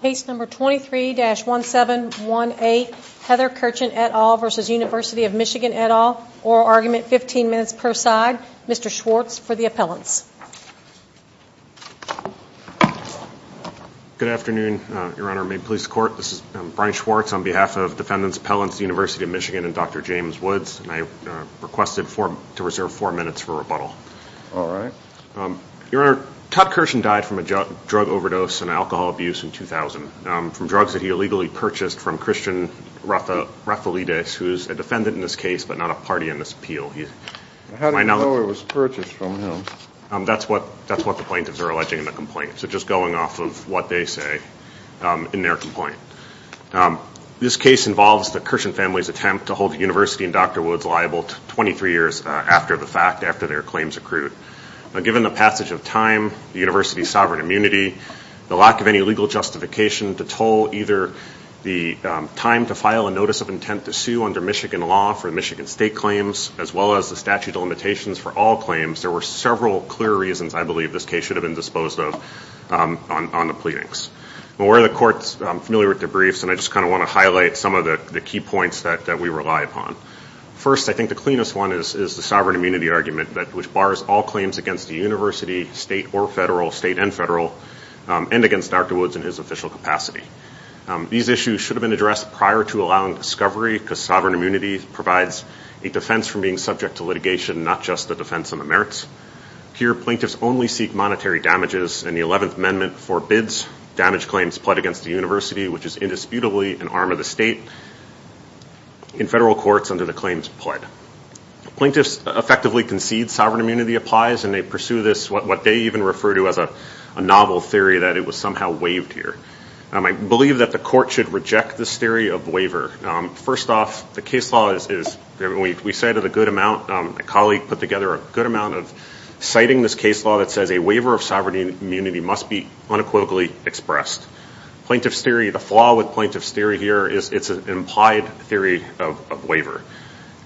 Case number 23-1718, Heather Kerchen et al. v. University of Michigan et al., oral argument, 15 minutes per side. Mr. Schwartz for the appellants. Good afternoon, Your Honor. Maine Police Court. This is Brian Schwartz on behalf of defendants, appellants, University of Michigan, and Dr. James Woods. I requested to reserve four minutes for rebuttal. All right. Your Honor, Todd Kerchen died from a drug overdose and alcohol abuse in 2000, from drugs that he illegally purchased from Christian Rafalides, who is a defendant in this case, but not a party in this appeal. How do you know it was purchased from him? That's what the plaintiffs are alleging in the complaint. So just going off of what they say in their complaint. This case involves the Kerchen family's attempt to hold the University and Dr. Woods liable 23 years after the fact, Given the passage of time, the University's sovereign immunity, the lack of any legal justification to toll either the time to file a notice of intent to sue under Michigan law for Michigan state claims, as well as the statute of limitations for all claims, there were several clear reasons I believe this case should have been disposed of on the pleadings. Well, we're the courts familiar with the briefs, and I just kind of want to highlight some of the key points that we rely upon. First, I think the cleanest one is the sovereign immunity argument, which bars all claims against the University, state or federal, state and federal, and against Dr. Woods in his official capacity. These issues should have been addressed prior to allowing discovery, because sovereign immunity provides a defense from being subject to litigation, not just the defense on the merits. Here, plaintiffs only seek monetary damages, and the 11th Amendment forbids damage claims pledged against the University, which is indisputably an arm of the state, in federal courts under the claims pled. Plaintiffs effectively concede sovereign immunity applies, and they pursue this, what they even refer to as a novel theory that it was somehow waived here. I believe that the court should reject this theory of waiver. First off, the case law is, we cited a good amount, a colleague put together a good amount of citing this case law that says a waiver of sovereign immunity must be unequivocally expressed. Plaintiff's theory, the flaw with plaintiff's theory here is it's an implied theory of waiver.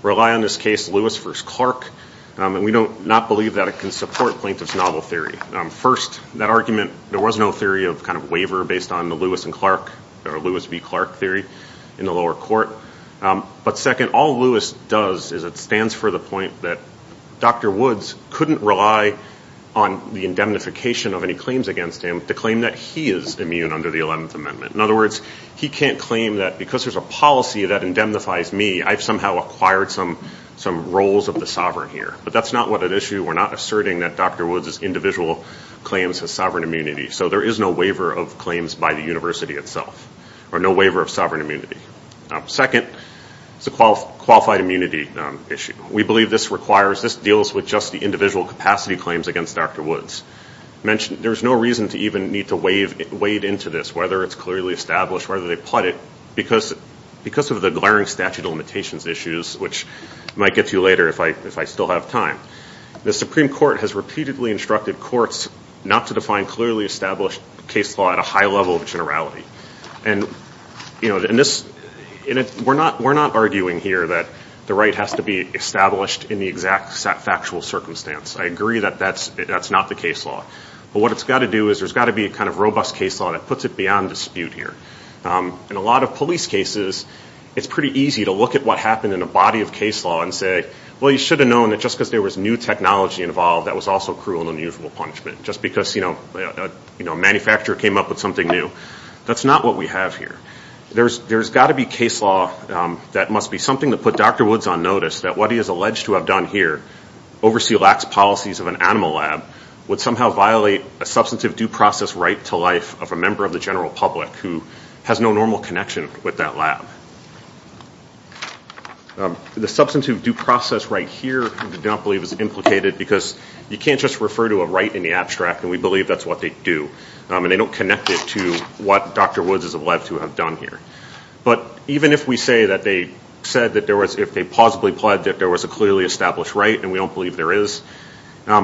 We rely on this case Lewis v. Clark, and we do not believe that it can support plaintiff's novel theory. First, that argument, there was no theory of kind of waiver based on the Lewis v. Clark theory in the lower court. But second, all Lewis does is it stands for the point that Dr. Woods couldn't rely on the indemnification of any claims against him to claim that he is immune under the 11th Amendment. In other words, he can't claim that because there's a policy that indemnifies me, I've somehow acquired some roles of the sovereign here. But that's not what at issue. We're not asserting that Dr. Woods' individual claims has sovereign immunity. So there is no waiver of claims by the University itself, or no waiver of sovereign immunity. Second, it's a qualified immunity issue. We believe this requires, this deals with just the individual capacity claims against Dr. Woods. There's no reason to even need to wade into this, whether it's clearly established, whether they put it, because of the glaring statute of limitations issues, which I might get to later if I still have time. The Supreme Court has repeatedly instructed courts not to define clearly established case law at a high level of generality. And we're not arguing here that the right has to be established in the exact factual circumstance. I agree that that's not the case law. But what it's got to do is there's got to be a kind of robust case law that puts it beyond dispute here. In a lot of police cases, it's pretty easy to look at what happened in a body of case law and say, well, you should have known that just because there was new technology involved, that was also cruel and unusual punishment, just because a manufacturer came up with something new. That's not what we have here. There's got to be case law that must be something to put Dr. Woods on notice that what he is alleged to have done here, oversee lax policies of an animal lab, would somehow violate a substantive due process right to life of a member of the general public who has no normal connection with that lab. The substantive due process right here, I don't believe, is implicated because you can't just refer to a right in the abstract, and we believe that's what they do. And they don't connect it to what Dr. Woods is alleged to have done here. But even if we say that they said that there was, if they plausibly pledged that there was a clearly established right, and we don't believe there is, the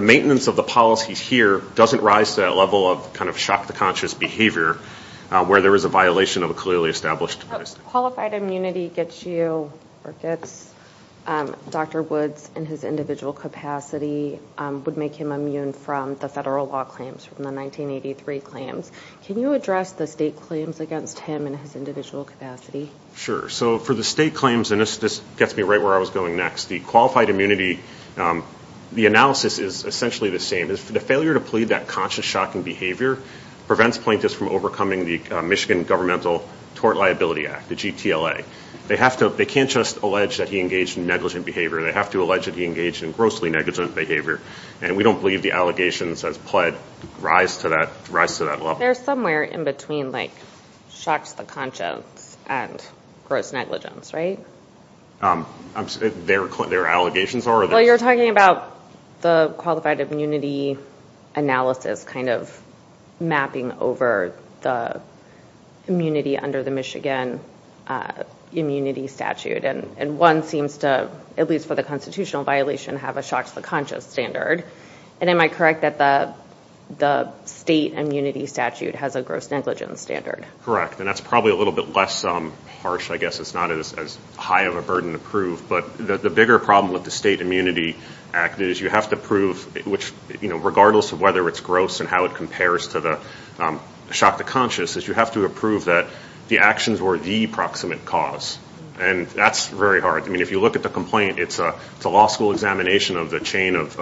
maintenance of the policies here doesn't rise to that level of kind of shock to conscious behavior where there is a violation of a clearly established policy. Qualified immunity gets you, or gets Dr. Woods in his individual capacity, would make him immune from the federal law claims, from the 1983 claims. Can you address the state claims against him in his individual capacity? Sure. So for the state claims, and this gets me right where I was going next, the qualified immunity, the analysis is essentially the same. The failure to plead that conscious shocking behavior prevents plaintiffs from overcoming the Michigan Governmental Tort Liability Act, the GTLA. They can't just allege that he engaged in negligent behavior. They have to allege that he engaged in grossly negligent behavior. And we don't believe the allegations as pled rise to that level. They're somewhere in between like shocks to conscience and gross negligence, right? Their allegations are? Well, you're talking about the qualified immunity analysis kind of mapping over the immunity under the Michigan immunity statute. And one seems to, at least for the constitutional violation, have a shocks to conscience standard. And am I correct that the state immunity statute has a gross negligence standard? Correct. And that's probably a little bit less harsh, I guess. It's not as high of a burden to prove. But the bigger problem with the state immunity act is you have to prove, regardless of whether it's gross and how it compares to the shock to conscience, is you have to prove that the actions were the proximate cause. And that's very hard. I mean, if you look at the complaint, it's a law school examination of the chain of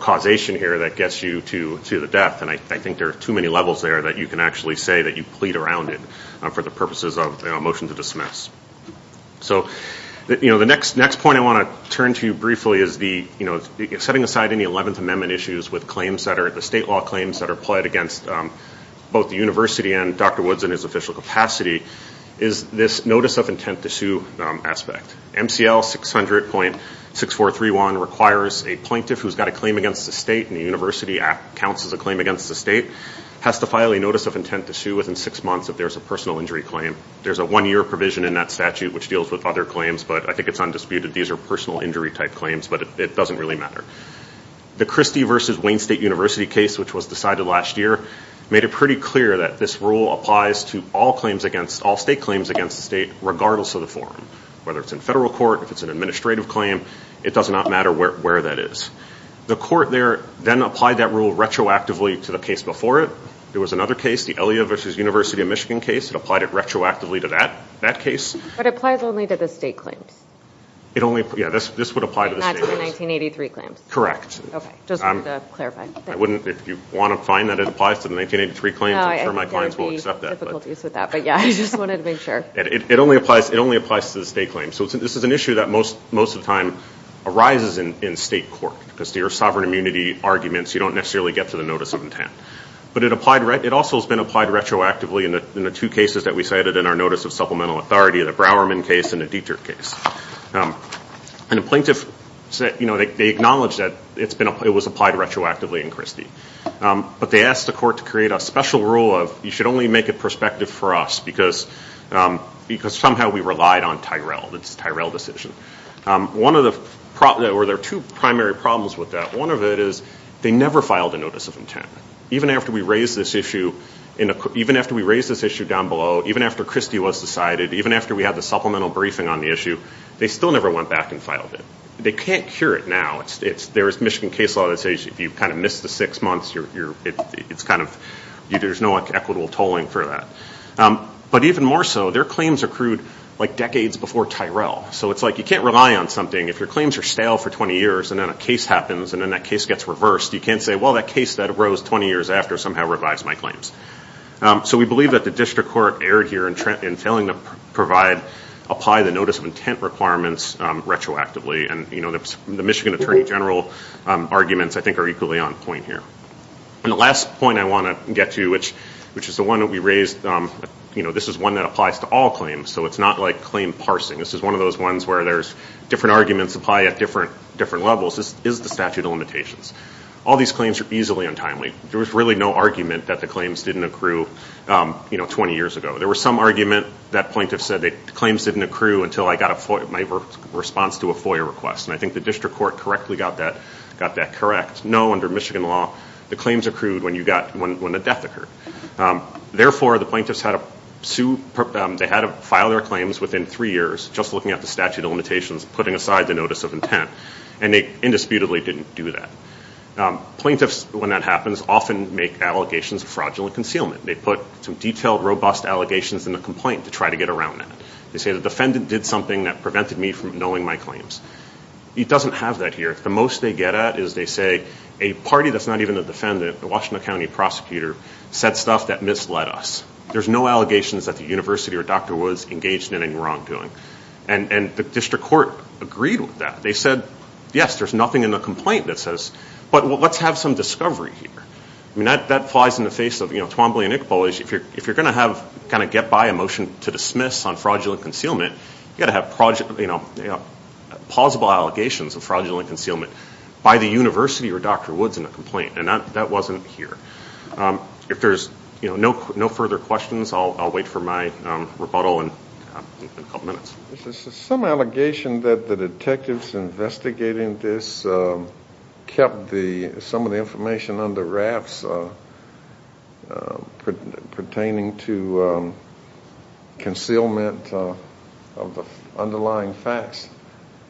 causation here that gets you to the death. And I think there are too many levels there that you can actually say that you plead around it for the purposes of a motion to dismiss. So the next point I want to turn to you briefly is setting aside any 11th Amendment issues with claims that are, the state law claims that are pled against both the university and Dr. Woods in his official capacity, is this notice of intent to sue aspect. MCL 600.6431 requires a plaintiff who's got a claim against the state and the university counts as a claim against the state has to file a notice of intent to sue within six months if there's a personal injury claim. There's a one-year provision in that statute which deals with other claims, but I think it's undisputed. These are personal injury type claims, but it doesn't really matter. The Christie versus Wayne State University case, which was decided last year, made it pretty clear that this rule applies to all claims against, all state claims against the state, regardless of the form. Whether it's in federal court, if it's an administrative claim, it does not matter where that is. The court there then applied that rule retroactively to the case before it. There was another case, the Elliott versus University of Michigan case. It applied it retroactively to that case. But it applies only to the state claims. It only, yeah, this would apply to the state claims. Not to the 1983 claims. Correct. Okay. Just wanted to clarify. I wouldn't, if you want to find that it applies to the 1983 claims, I'm sure my clients will accept that. No, I understand the difficulties with that, but yeah, I just wanted to make sure. It only applies to the state claims. So this is an issue that most of the time arises in state court, because your sovereign immunity arguments, you don't necessarily get to the notice of intent. But it also has been applied retroactively in the two cases that we cited in our notice of supplemental authority, the Browerman case and the Dieterich case. And the plaintiff said, you know, they acknowledged that it was applied retroactively in Christie. But they asked the court to create a special rule of you should only make it prospective for us, because somehow we relied on Tyrell. It's a Tyrell decision. One of the, or there are two primary problems with that. One of it is they never filed a notice of intent. Even after we raised this issue down below, even after Christie was decided, even after we had the supplemental briefing on the issue, they still never went back and filed it. They can't cure it now. There is Michigan case law that says if you kind of miss the six months, it's kind of, there's no equitable tolling for that. But even more so, their claims accrued like decades before Tyrell. So it's like you can't rely on something. If your claims are stale for 20 years and then a case happens and then that case gets reversed, you can't say, well, that case that arose 20 years after somehow revised my claims. So we believe that the district court erred here in failing to provide, apply the notice of intent requirements retroactively. And, you know, the Michigan Attorney General arguments, I think, are equally on point here. And the last point I want to get to, which is the one that we raised, you know, this is one that applies to all claims. So it's not like claim parsing. This is one of those ones where there's different arguments apply at different levels. This is the statute of limitations. All these claims are easily untimely. There was really no argument that the claims didn't accrue, you know, 20 years ago. There was some argument that plaintiffs said the claims didn't accrue until I got my response to a FOIA request. And I think the district court correctly got that correct. No, under Michigan law, the claims accrued when the death occurred. Therefore, the plaintiffs had to file their claims within three years, just looking at the statute of limitations, putting aside the notice of intent, and they indisputably didn't do that. Plaintiffs, when that happens, often make allegations of fraudulent concealment. They put some detailed, robust allegations in the complaint to try to get around that. They say the defendant did something that prevented me from knowing my claims. It doesn't have that here. The most they get at is they say a party that's not even a defendant, the Washington County prosecutor, said stuff that misled us. There's no allegations that the university or Dr. Woods engaged in any wrongdoing. And the district court agreed with that. They said, yes, there's nothing in the complaint that says, but let's have some discovery here. I mean, that flies in the face of, you know, Twombly and Iqbal. If you're going to have, kind of, get by a motion to dismiss on fraudulent concealment, you've got to have plausible allegations of fraudulent concealment by the university or Dr. Woods in a complaint. And that wasn't here. If there's no further questions, I'll wait for my rebuttal in a couple minutes. There's some allegation that the detectives investigating this kept some of the information on the rafts pertaining to concealment of the underlying facts.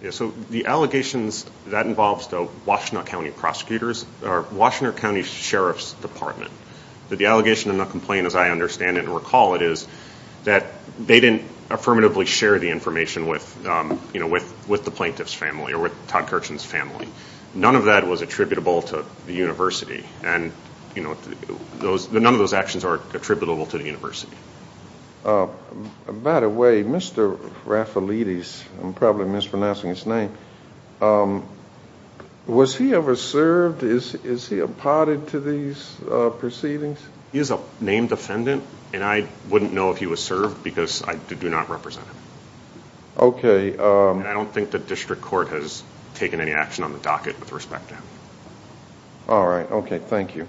Yeah, so the allegations that involves the Washtenaw County prosecutors are Washtenaw County Sheriff's Department. The allegation in the complaint, as I understand it and recall it, is that they didn't affirmatively share the information with, you know, with the plaintiff's family or with Todd Kirshen's family. None of that was attributable to the university. And, you know, none of those actions are attributable to the university. By the way, Mr. Raffalidis, I'm probably mispronouncing his name. Was he ever served? Is he apparted to these proceedings? He is a named defendant, and I wouldn't know if he was served because I do not represent him. Okay. And I don't think the district court has taken any action on the docket with respect to him. All right. Okay. Thank you.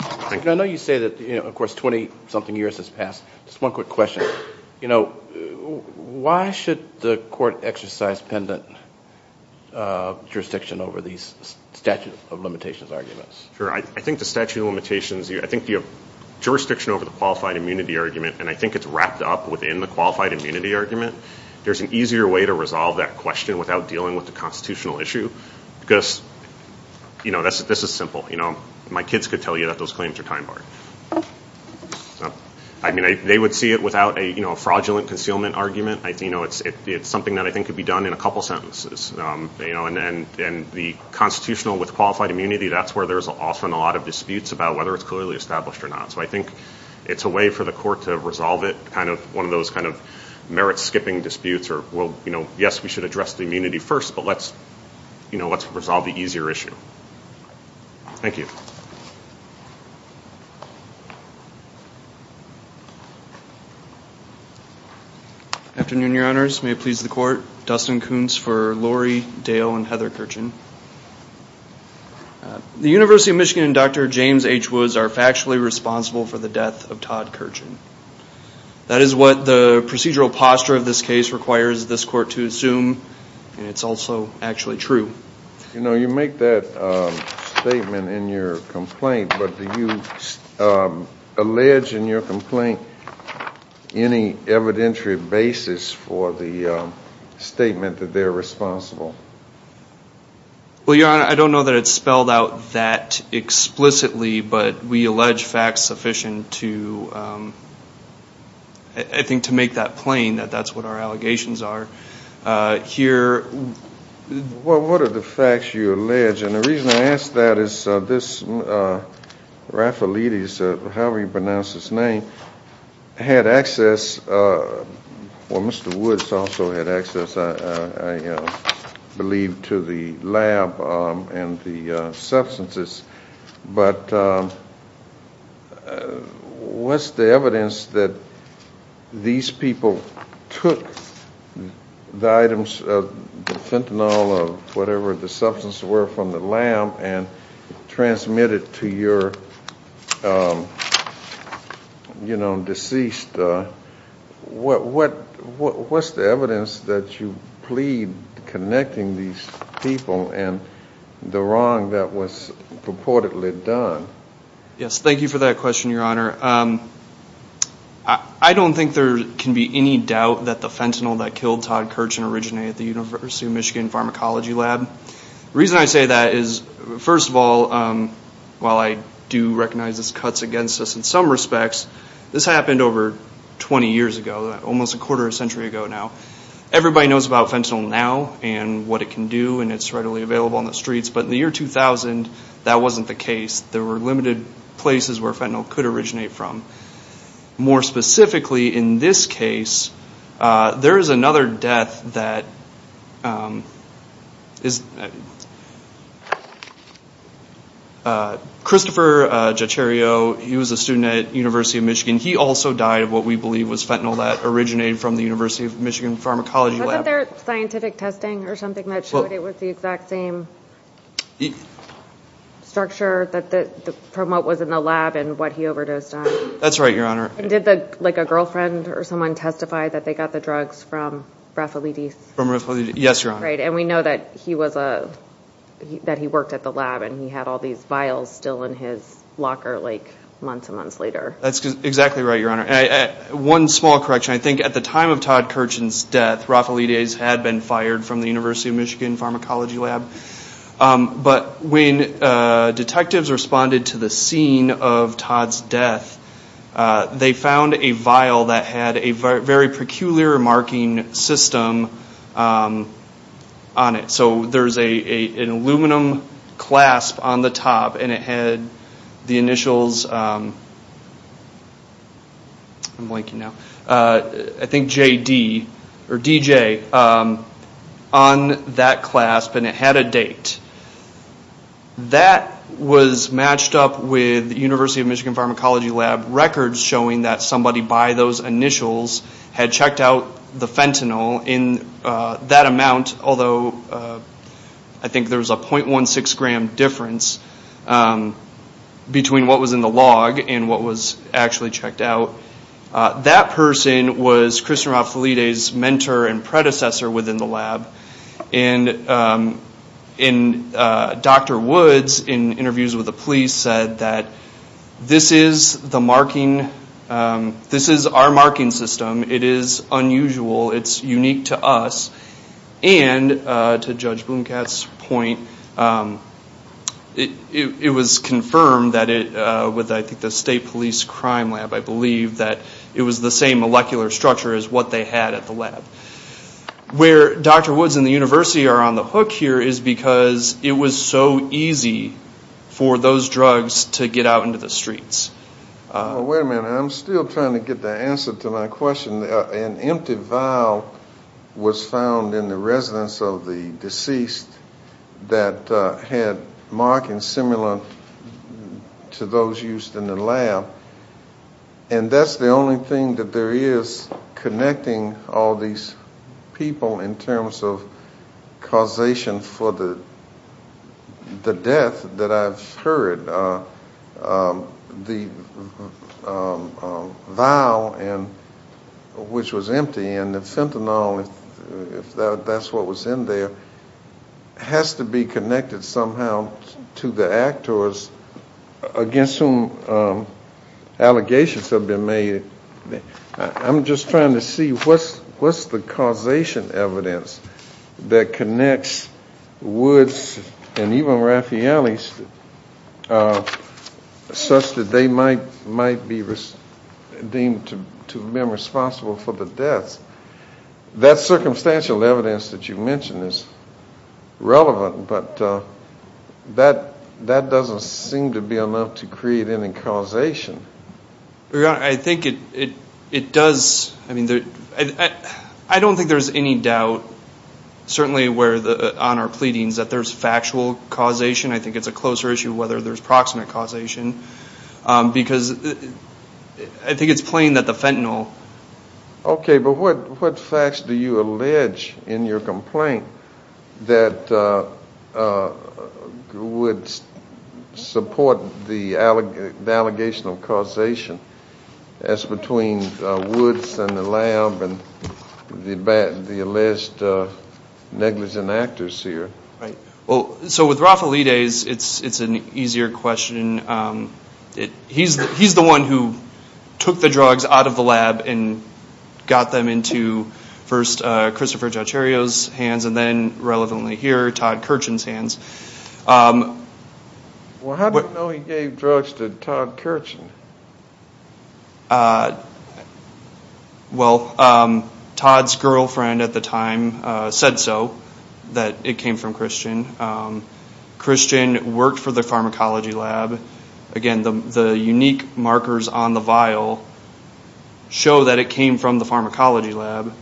I know you say that, you know, of course, 20-something years has passed. Just one quick question. You know, why should the court exercise pendant jurisdiction over these statute of limitations arguments? Sure. I think the statute of limitations, I think the jurisdiction over the qualified immunity argument, and I think it's wrapped up within the qualified immunity argument, there's an easier way to resolve that question without dealing with the constitutional issue because, you know, this is simple. You know, my kids could tell you that those claims are time-barred. I mean, they would see it without a, you know, a fraudulent concealment argument. You know, it's something that I think could be done in a couple sentences. You know, and the constitutional with qualified immunity, that's where there's often a lot of disputes about whether it's clearly established or not. So I think it's a way for the court to resolve it, kind of one of those kind of merit-skipping disputes or, well, you know, yes, we should address the immunity first, but let's, you know, let's resolve the easier issue. Thank you. Afternoon, Your Honors. May it please the court. Dustin Kuntz for Lori Dale and Heather Kirchen. The University of Michigan and Dr. James H. Woods are factually responsible for the death of Todd Kirchen. That is what the procedural posture of this case requires this court to assume, and it's also actually true. You know, you make that statement in your complaint, but do you allege in your complaint any evidentiary basis for the statement that they're responsible? Well, Your Honor, I don't know that it's spelled out that explicitly, but we allege facts sufficient to, I think, to make that plain, that that's what our allegations are here. Well, what are the facts you allege? And the reason I ask that is this Raffalidis, however you pronounce his name, had access, well, Mr. Woods also had access, I believe, to the lab and the substances, but what's the evidence that these people took the items of the fentanyl or whatever the substances were from the lab and transmitted to your, you know, deceased? What's the evidence that you plead connecting these people and the wrong that was purportedly done? Yes, thank you for that question, Your Honor. I don't think there can be any doubt that the fentanyl that killed Todd Kirchen originated at the University of Michigan Pharmacology Lab. The reason I say that is, first of all, while I do recognize this cuts against us in some respects, this happened over 20 years ago, almost a quarter of a century ago now. Everybody knows about fentanyl now and what it can do and it's readily available on the streets, but in the year 2000, that wasn't the case. There were limited places where fentanyl could originate from. More specifically, in this case, there is another death that Christopher Jeterio, he was a student at University of Michigan, he also died of what we believe was fentanyl that originated from the University of Michigan Pharmacology Lab. Wasn't there scientific testing or something that showed it was the exact same structure from what was in the lab and what he overdosed on? That's right, Your Honor. And did a girlfriend or someone testify that they got the drugs from Raffalidies? From Raffalidies, yes, Your Honor. Right, and we know that he worked at the lab and he had all these vials still in his locker months and months later. That's exactly right, Your Honor. One small correction, I think at the time of Todd Kirchen's death, Raffalidies had been fired from the University of Michigan Pharmacology Lab. But when detectives responded to the scene of Todd's death, they found a vial that had a very peculiar marking system on it. So there's an aluminum clasp on the top and it had the initials, I'm blanking now, I think JD or DJ on that clasp and it had a date. That was matched up with University of Michigan Pharmacology Lab records showing that somebody by those initials had checked out the fentanyl in that amount, although I think there was a .16 gram difference between what was in the log and what was actually checked out. That person was Christian Raffalidies' mentor and predecessor within the lab. And Dr. Woods, in interviews with the police, said that this is the marking, this is our marking system, it is unusual, it's unique to us. And to Judge Blomkatt's point, it was confirmed with I think the State Police Crime Lab, I believe, that it was the same molecular structure as what they had at the lab. Where Dr. Woods and the university are on the hook here is because it was so easy for those drugs to get out into the streets. Wait a minute, I'm still trying to get the answer to my question. An empty vial was found in the residence of the deceased that had markings similar to those used in the lab. And that's the only thing that there is connecting all these people in terms of causation for the death that I've heard. The vial which was empty and the fentanyl, if that's what was in there, has to be connected somehow to the actors against whom allegations have been made. I'm just trying to see what's the causation evidence that connects Woods and even Raffaelli such that they might be deemed to have been responsible for the deaths. That circumstantial evidence that you mentioned is relevant, but that doesn't seem to be enough to create any causation. I don't think there's any doubt, certainly on our pleadings, that there's factual causation. I think it's a closer issue whether there's proximate causation because I think it's plain that the fentanyl Okay, but what facts do you allege in your complaint that would support the allegation of causation as between Woods and the lab and the alleged negligent actors here? So with Raffaelli days, it's an easier question. He's the one who took the drugs out of the lab and got them into first Christopher Jotario's hands and then, relevantly here, Todd Kirchen's hands. Well, how do you know he gave drugs to Todd Kirchen? Well, Todd's girlfriend at the time said so, that it came from Christian. Christian worked for the pharmacology lab. Again, the unique markers on the vial show that it came from the pharmacology lab.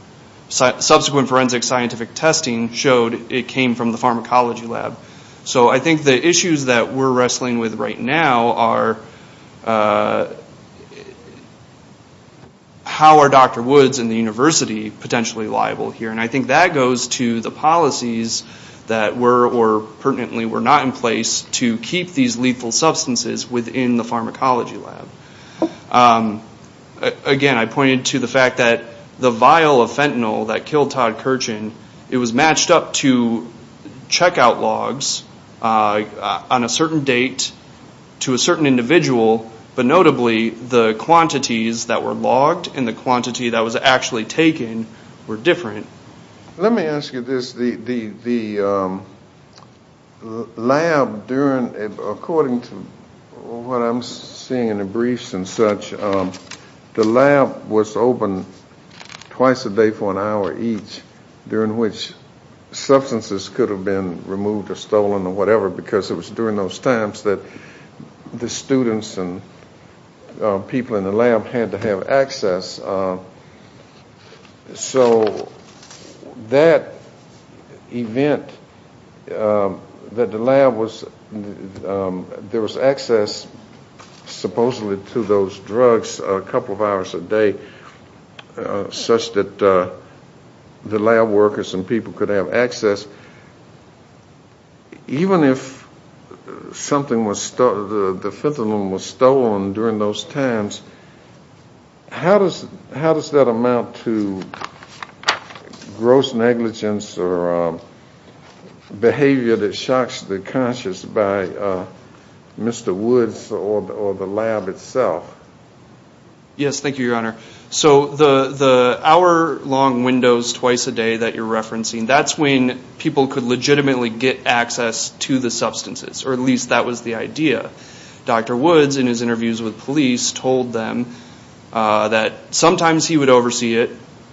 Subsequent forensic scientific testing showed it came from the pharmacology lab. So I think the issues that we're wrestling with right now are how are Dr. Woods and the university potentially liable here? And I think that goes to the policies that were or pertinently were not in place to keep these lethal substances within the pharmacology lab. Again, I pointed to the fact that the vial of fentanyl that killed Todd Kirchen, it was matched up to checkout logs on a certain date to a certain individual. But notably, the quantities that were logged and the quantity that was actually taken were different. Let me ask you this. The lab, according to what I'm seeing in the briefs and such, the lab was open twice a day for an hour each, during which substances could have been removed or stolen or whatever, because it was during those times that the students and people in the lab had to have access. So that event that the lab was, there was access supposedly to those drugs a couple of hours a day, such that the lab workers and people could have access. Even if the fentanyl was stolen during those times, how does that amount to gross negligence or behavior that shocks the conscious by Mr. Woods or the lab itself? Yes, thank you, Your Honor. So the hour-long windows twice a day that you're referencing, that's when people could legitimately get access to the substances, or at least that was the idea. Dr. Woods, in his interviews with police, told them that sometimes he would oversee it,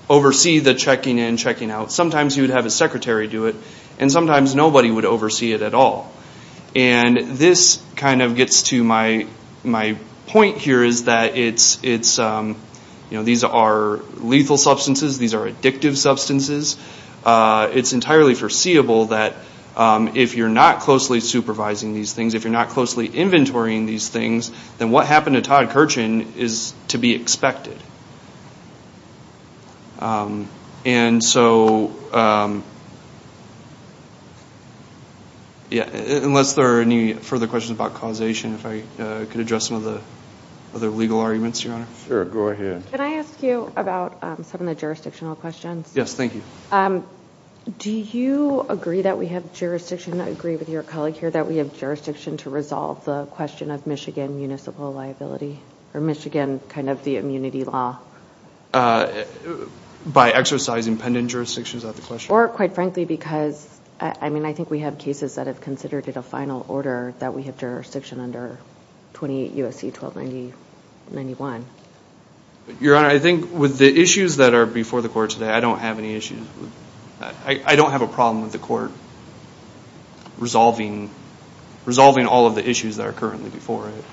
oversee the checking in, checking out. Sometimes he would have his secretary do it, and sometimes nobody would oversee it at all. And this kind of gets to my point here, is that these are lethal substances, these are addictive substances. It's entirely foreseeable that if you're not closely supervising these things, if you're not closely inventorying these things, then what happened to Todd Kirchen is to be expected. Unless there are any further questions about causation, if I could address some of the other legal arguments, Your Honor. Sure, go ahead. Can I ask you about some of the jurisdictional questions? Yes, thank you. Do you agree that we have jurisdiction, I agree with your colleague here, that we have jurisdiction to resolve the question of Michigan municipal liability, or Michigan kind of the immunity law? By exercising pendant jurisdiction, is that the question? Or, quite frankly, because, I mean, I think we have cases that have considered it a final order that we have jurisdiction under 28 U.S.C. 1291. Your Honor, I think with the issues that are before the court today, I don't have any issues, I don't have a problem with the court resolving all of the issues that are currently before it.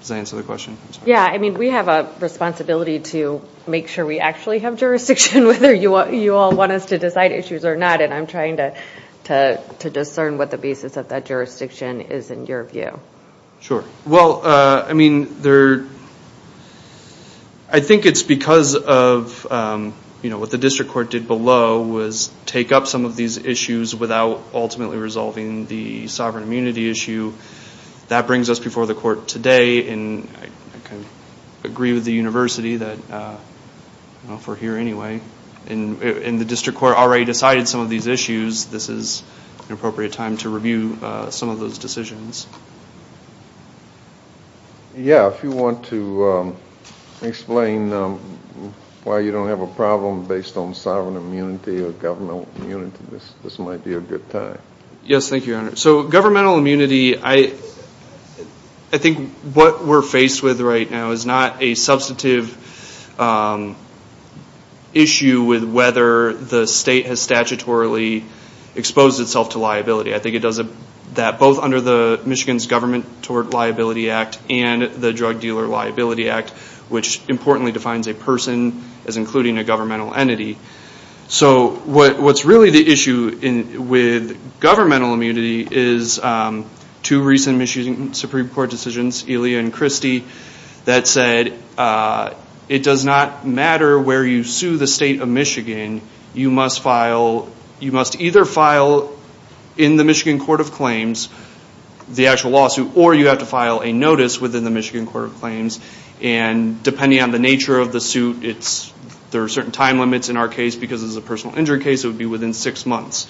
Does that answer the question? Yeah, I mean, we have a responsibility to make sure we actually have jurisdiction, whether you all want us to decide issues or not, and I'm trying to discern what the basis of that jurisdiction is in your view. Sure. Well, I mean, there, I think it's because of, you know, what the district court did below was take up some of these issues without ultimately resolving the sovereign immunity issue. That brings us before the court today, and I kind of agree with the University that, you know, if we're here anyway, and the district court already decided some of these issues, this is an appropriate time to review some of those decisions. Yeah, if you want to explain why you don't have a problem based on sovereign immunity or governmental immunity, this might be a good time. Yes, thank you, Your Honor. So governmental immunity, I think what we're faced with right now is not a substantive issue with whether the state has statutorily exposed itself to liability. I think it does that both under the Michigan's Government Toward Liability Act and the Drug Dealer Liability Act, which importantly defines a person as including a governmental entity. So what's really the issue with governmental immunity is two recent Michigan Supreme Court decisions, Elia and Christie, that said it does not matter where you sue the state of Michigan. You must either file in the Michigan Court of Claims the actual lawsuit, or you have to file a notice within the Michigan Court of Claims. And depending on the nature of the suit, there are certain time limits in our case, because this is a personal injury case, it would be within six months.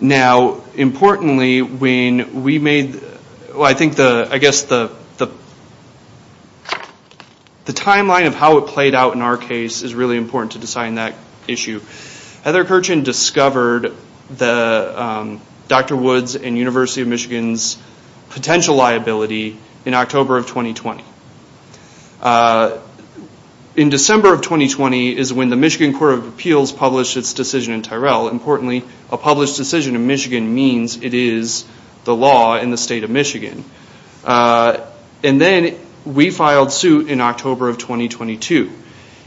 Now, importantly, when we made, well, I think the, I guess the timeline of how it played out in our case is really important to design that issue. Heather Kerchan discovered Dr. Woods and University of Michigan's potential liability in October of 2020. In December of 2020 is when the Michigan Court of Appeals published its decision in Tyrell. Importantly, a published decision in Michigan means it is the law in the state of Michigan. And then we filed suit in October of 2022.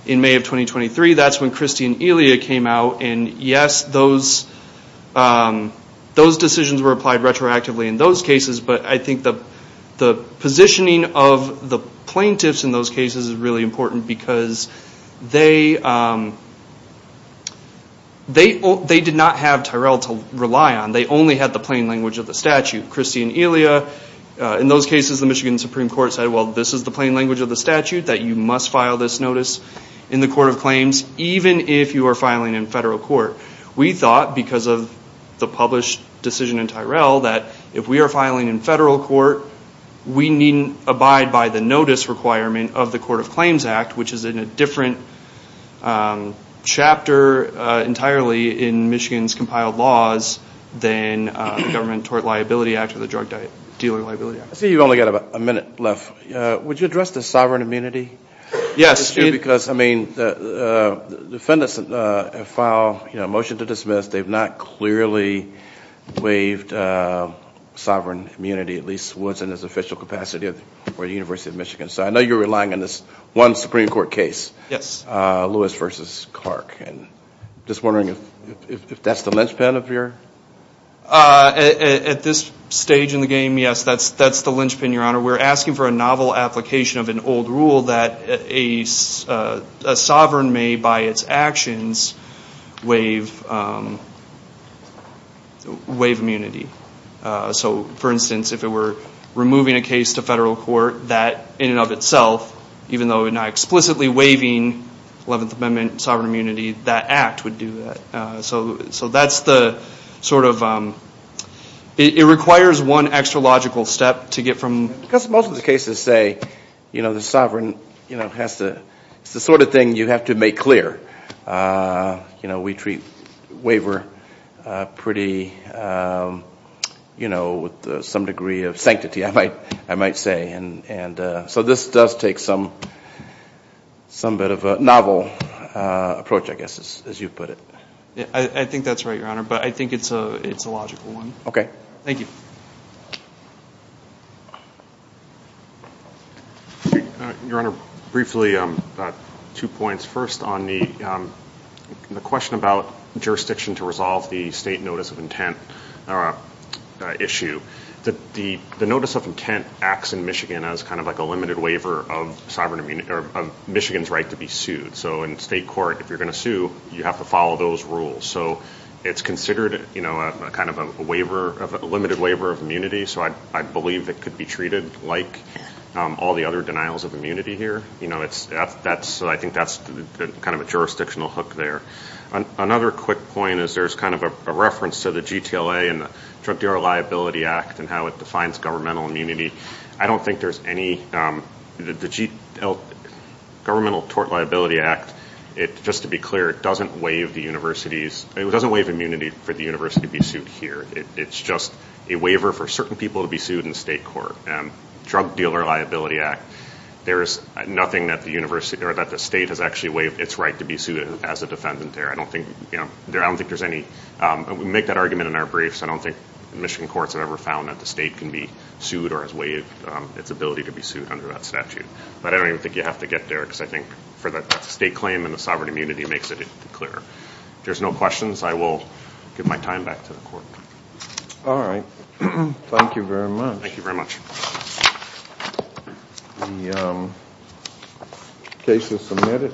In May of 2023, that's when Christie and Elia came out, and yes, those decisions were applied retroactively in those cases, but I think the positioning of the plaintiffs in those cases is really important because they did not have Tyrell to rely on. They only had the plain language of the statute. In those cases, the Michigan Supreme Court said, well, this is the plain language of the statute, that you must file this notice in the Court of Claims, even if you are filing in federal court. We thought, because of the published decision in Tyrell, that if we are filing in federal court, we need abide by the notice requirement of the Court of Claims Act, which is in a different chapter entirely in Michigan's compiled laws than the Government Tort Liability Act or the Drug Dealer Liability Act. I see you've only got about a minute left. Would you address the sovereign immunity issue? Yes. Because, I mean, the defendants have filed a motion to dismiss. They've not clearly waived sovereign immunity, at least once in its official capacity at the University of Michigan. So I know you're relying on this one Supreme Court case. Lewis v. Clark. I'm just wondering if that's the linchpin of your... At this stage in the game, yes, that's the linchpin, Your Honor. We're asking for a novel application of an old rule that a sovereign may, by its actions, waive immunity. So, for instance, if it were removing a case to federal court, that in and of itself, even though we're not explicitly waiving Eleventh Amendment sovereign immunity, that act would do that. So that's the sort of... It requires one extra logical step to get from... Because most of the cases say, you know, the sovereign has to... It's the sort of thing you have to make clear. You know, we treat waiver pretty, you know, with some degree of sanctity, I might say. So this does take some bit of a novel approach, I guess, as you put it. I think that's right, Your Honor, but I think it's a logical one. Okay. Thank you. Your Honor, briefly, two points. First, on the question about jurisdiction to resolve the state notice of intent issue, the notice of intent acts in Michigan as kind of like a limited waiver of Michigan's right to be sued. So in state court, if you're going to sue, you have to follow those rules. So it's considered, you know, a kind of a waiver, a limited waiver of immunity. So I believe it could be treated like all the other denials of immunity here. You know, I think that's kind of a jurisdictional hook there. Another quick point is there's kind of a reference to the GTLA and the Drug Dealer Liability Act and how it defines governmental immunity. I don't think there's any... Governmental Tort Liability Act, just to be clear, it doesn't waive the university's... It doesn't waive immunity for the university to be sued here. It's just a waiver for certain people to be sued in state court. Drug Dealer Liability Act, there is nothing that the state has actually waived its right to be sued as a defendant there. I don't think there's any... We make that argument in our briefs. I don't think Michigan courts have ever found that the state can be sued or has waived its ability to be sued under that statute. But I don't even think you have to get there because I think for the state claim and the sovereign immunity makes it clearer. If there's no questions, I will give my time back to the court. All right. Thank you very much. Thank you very much. The case is submitted.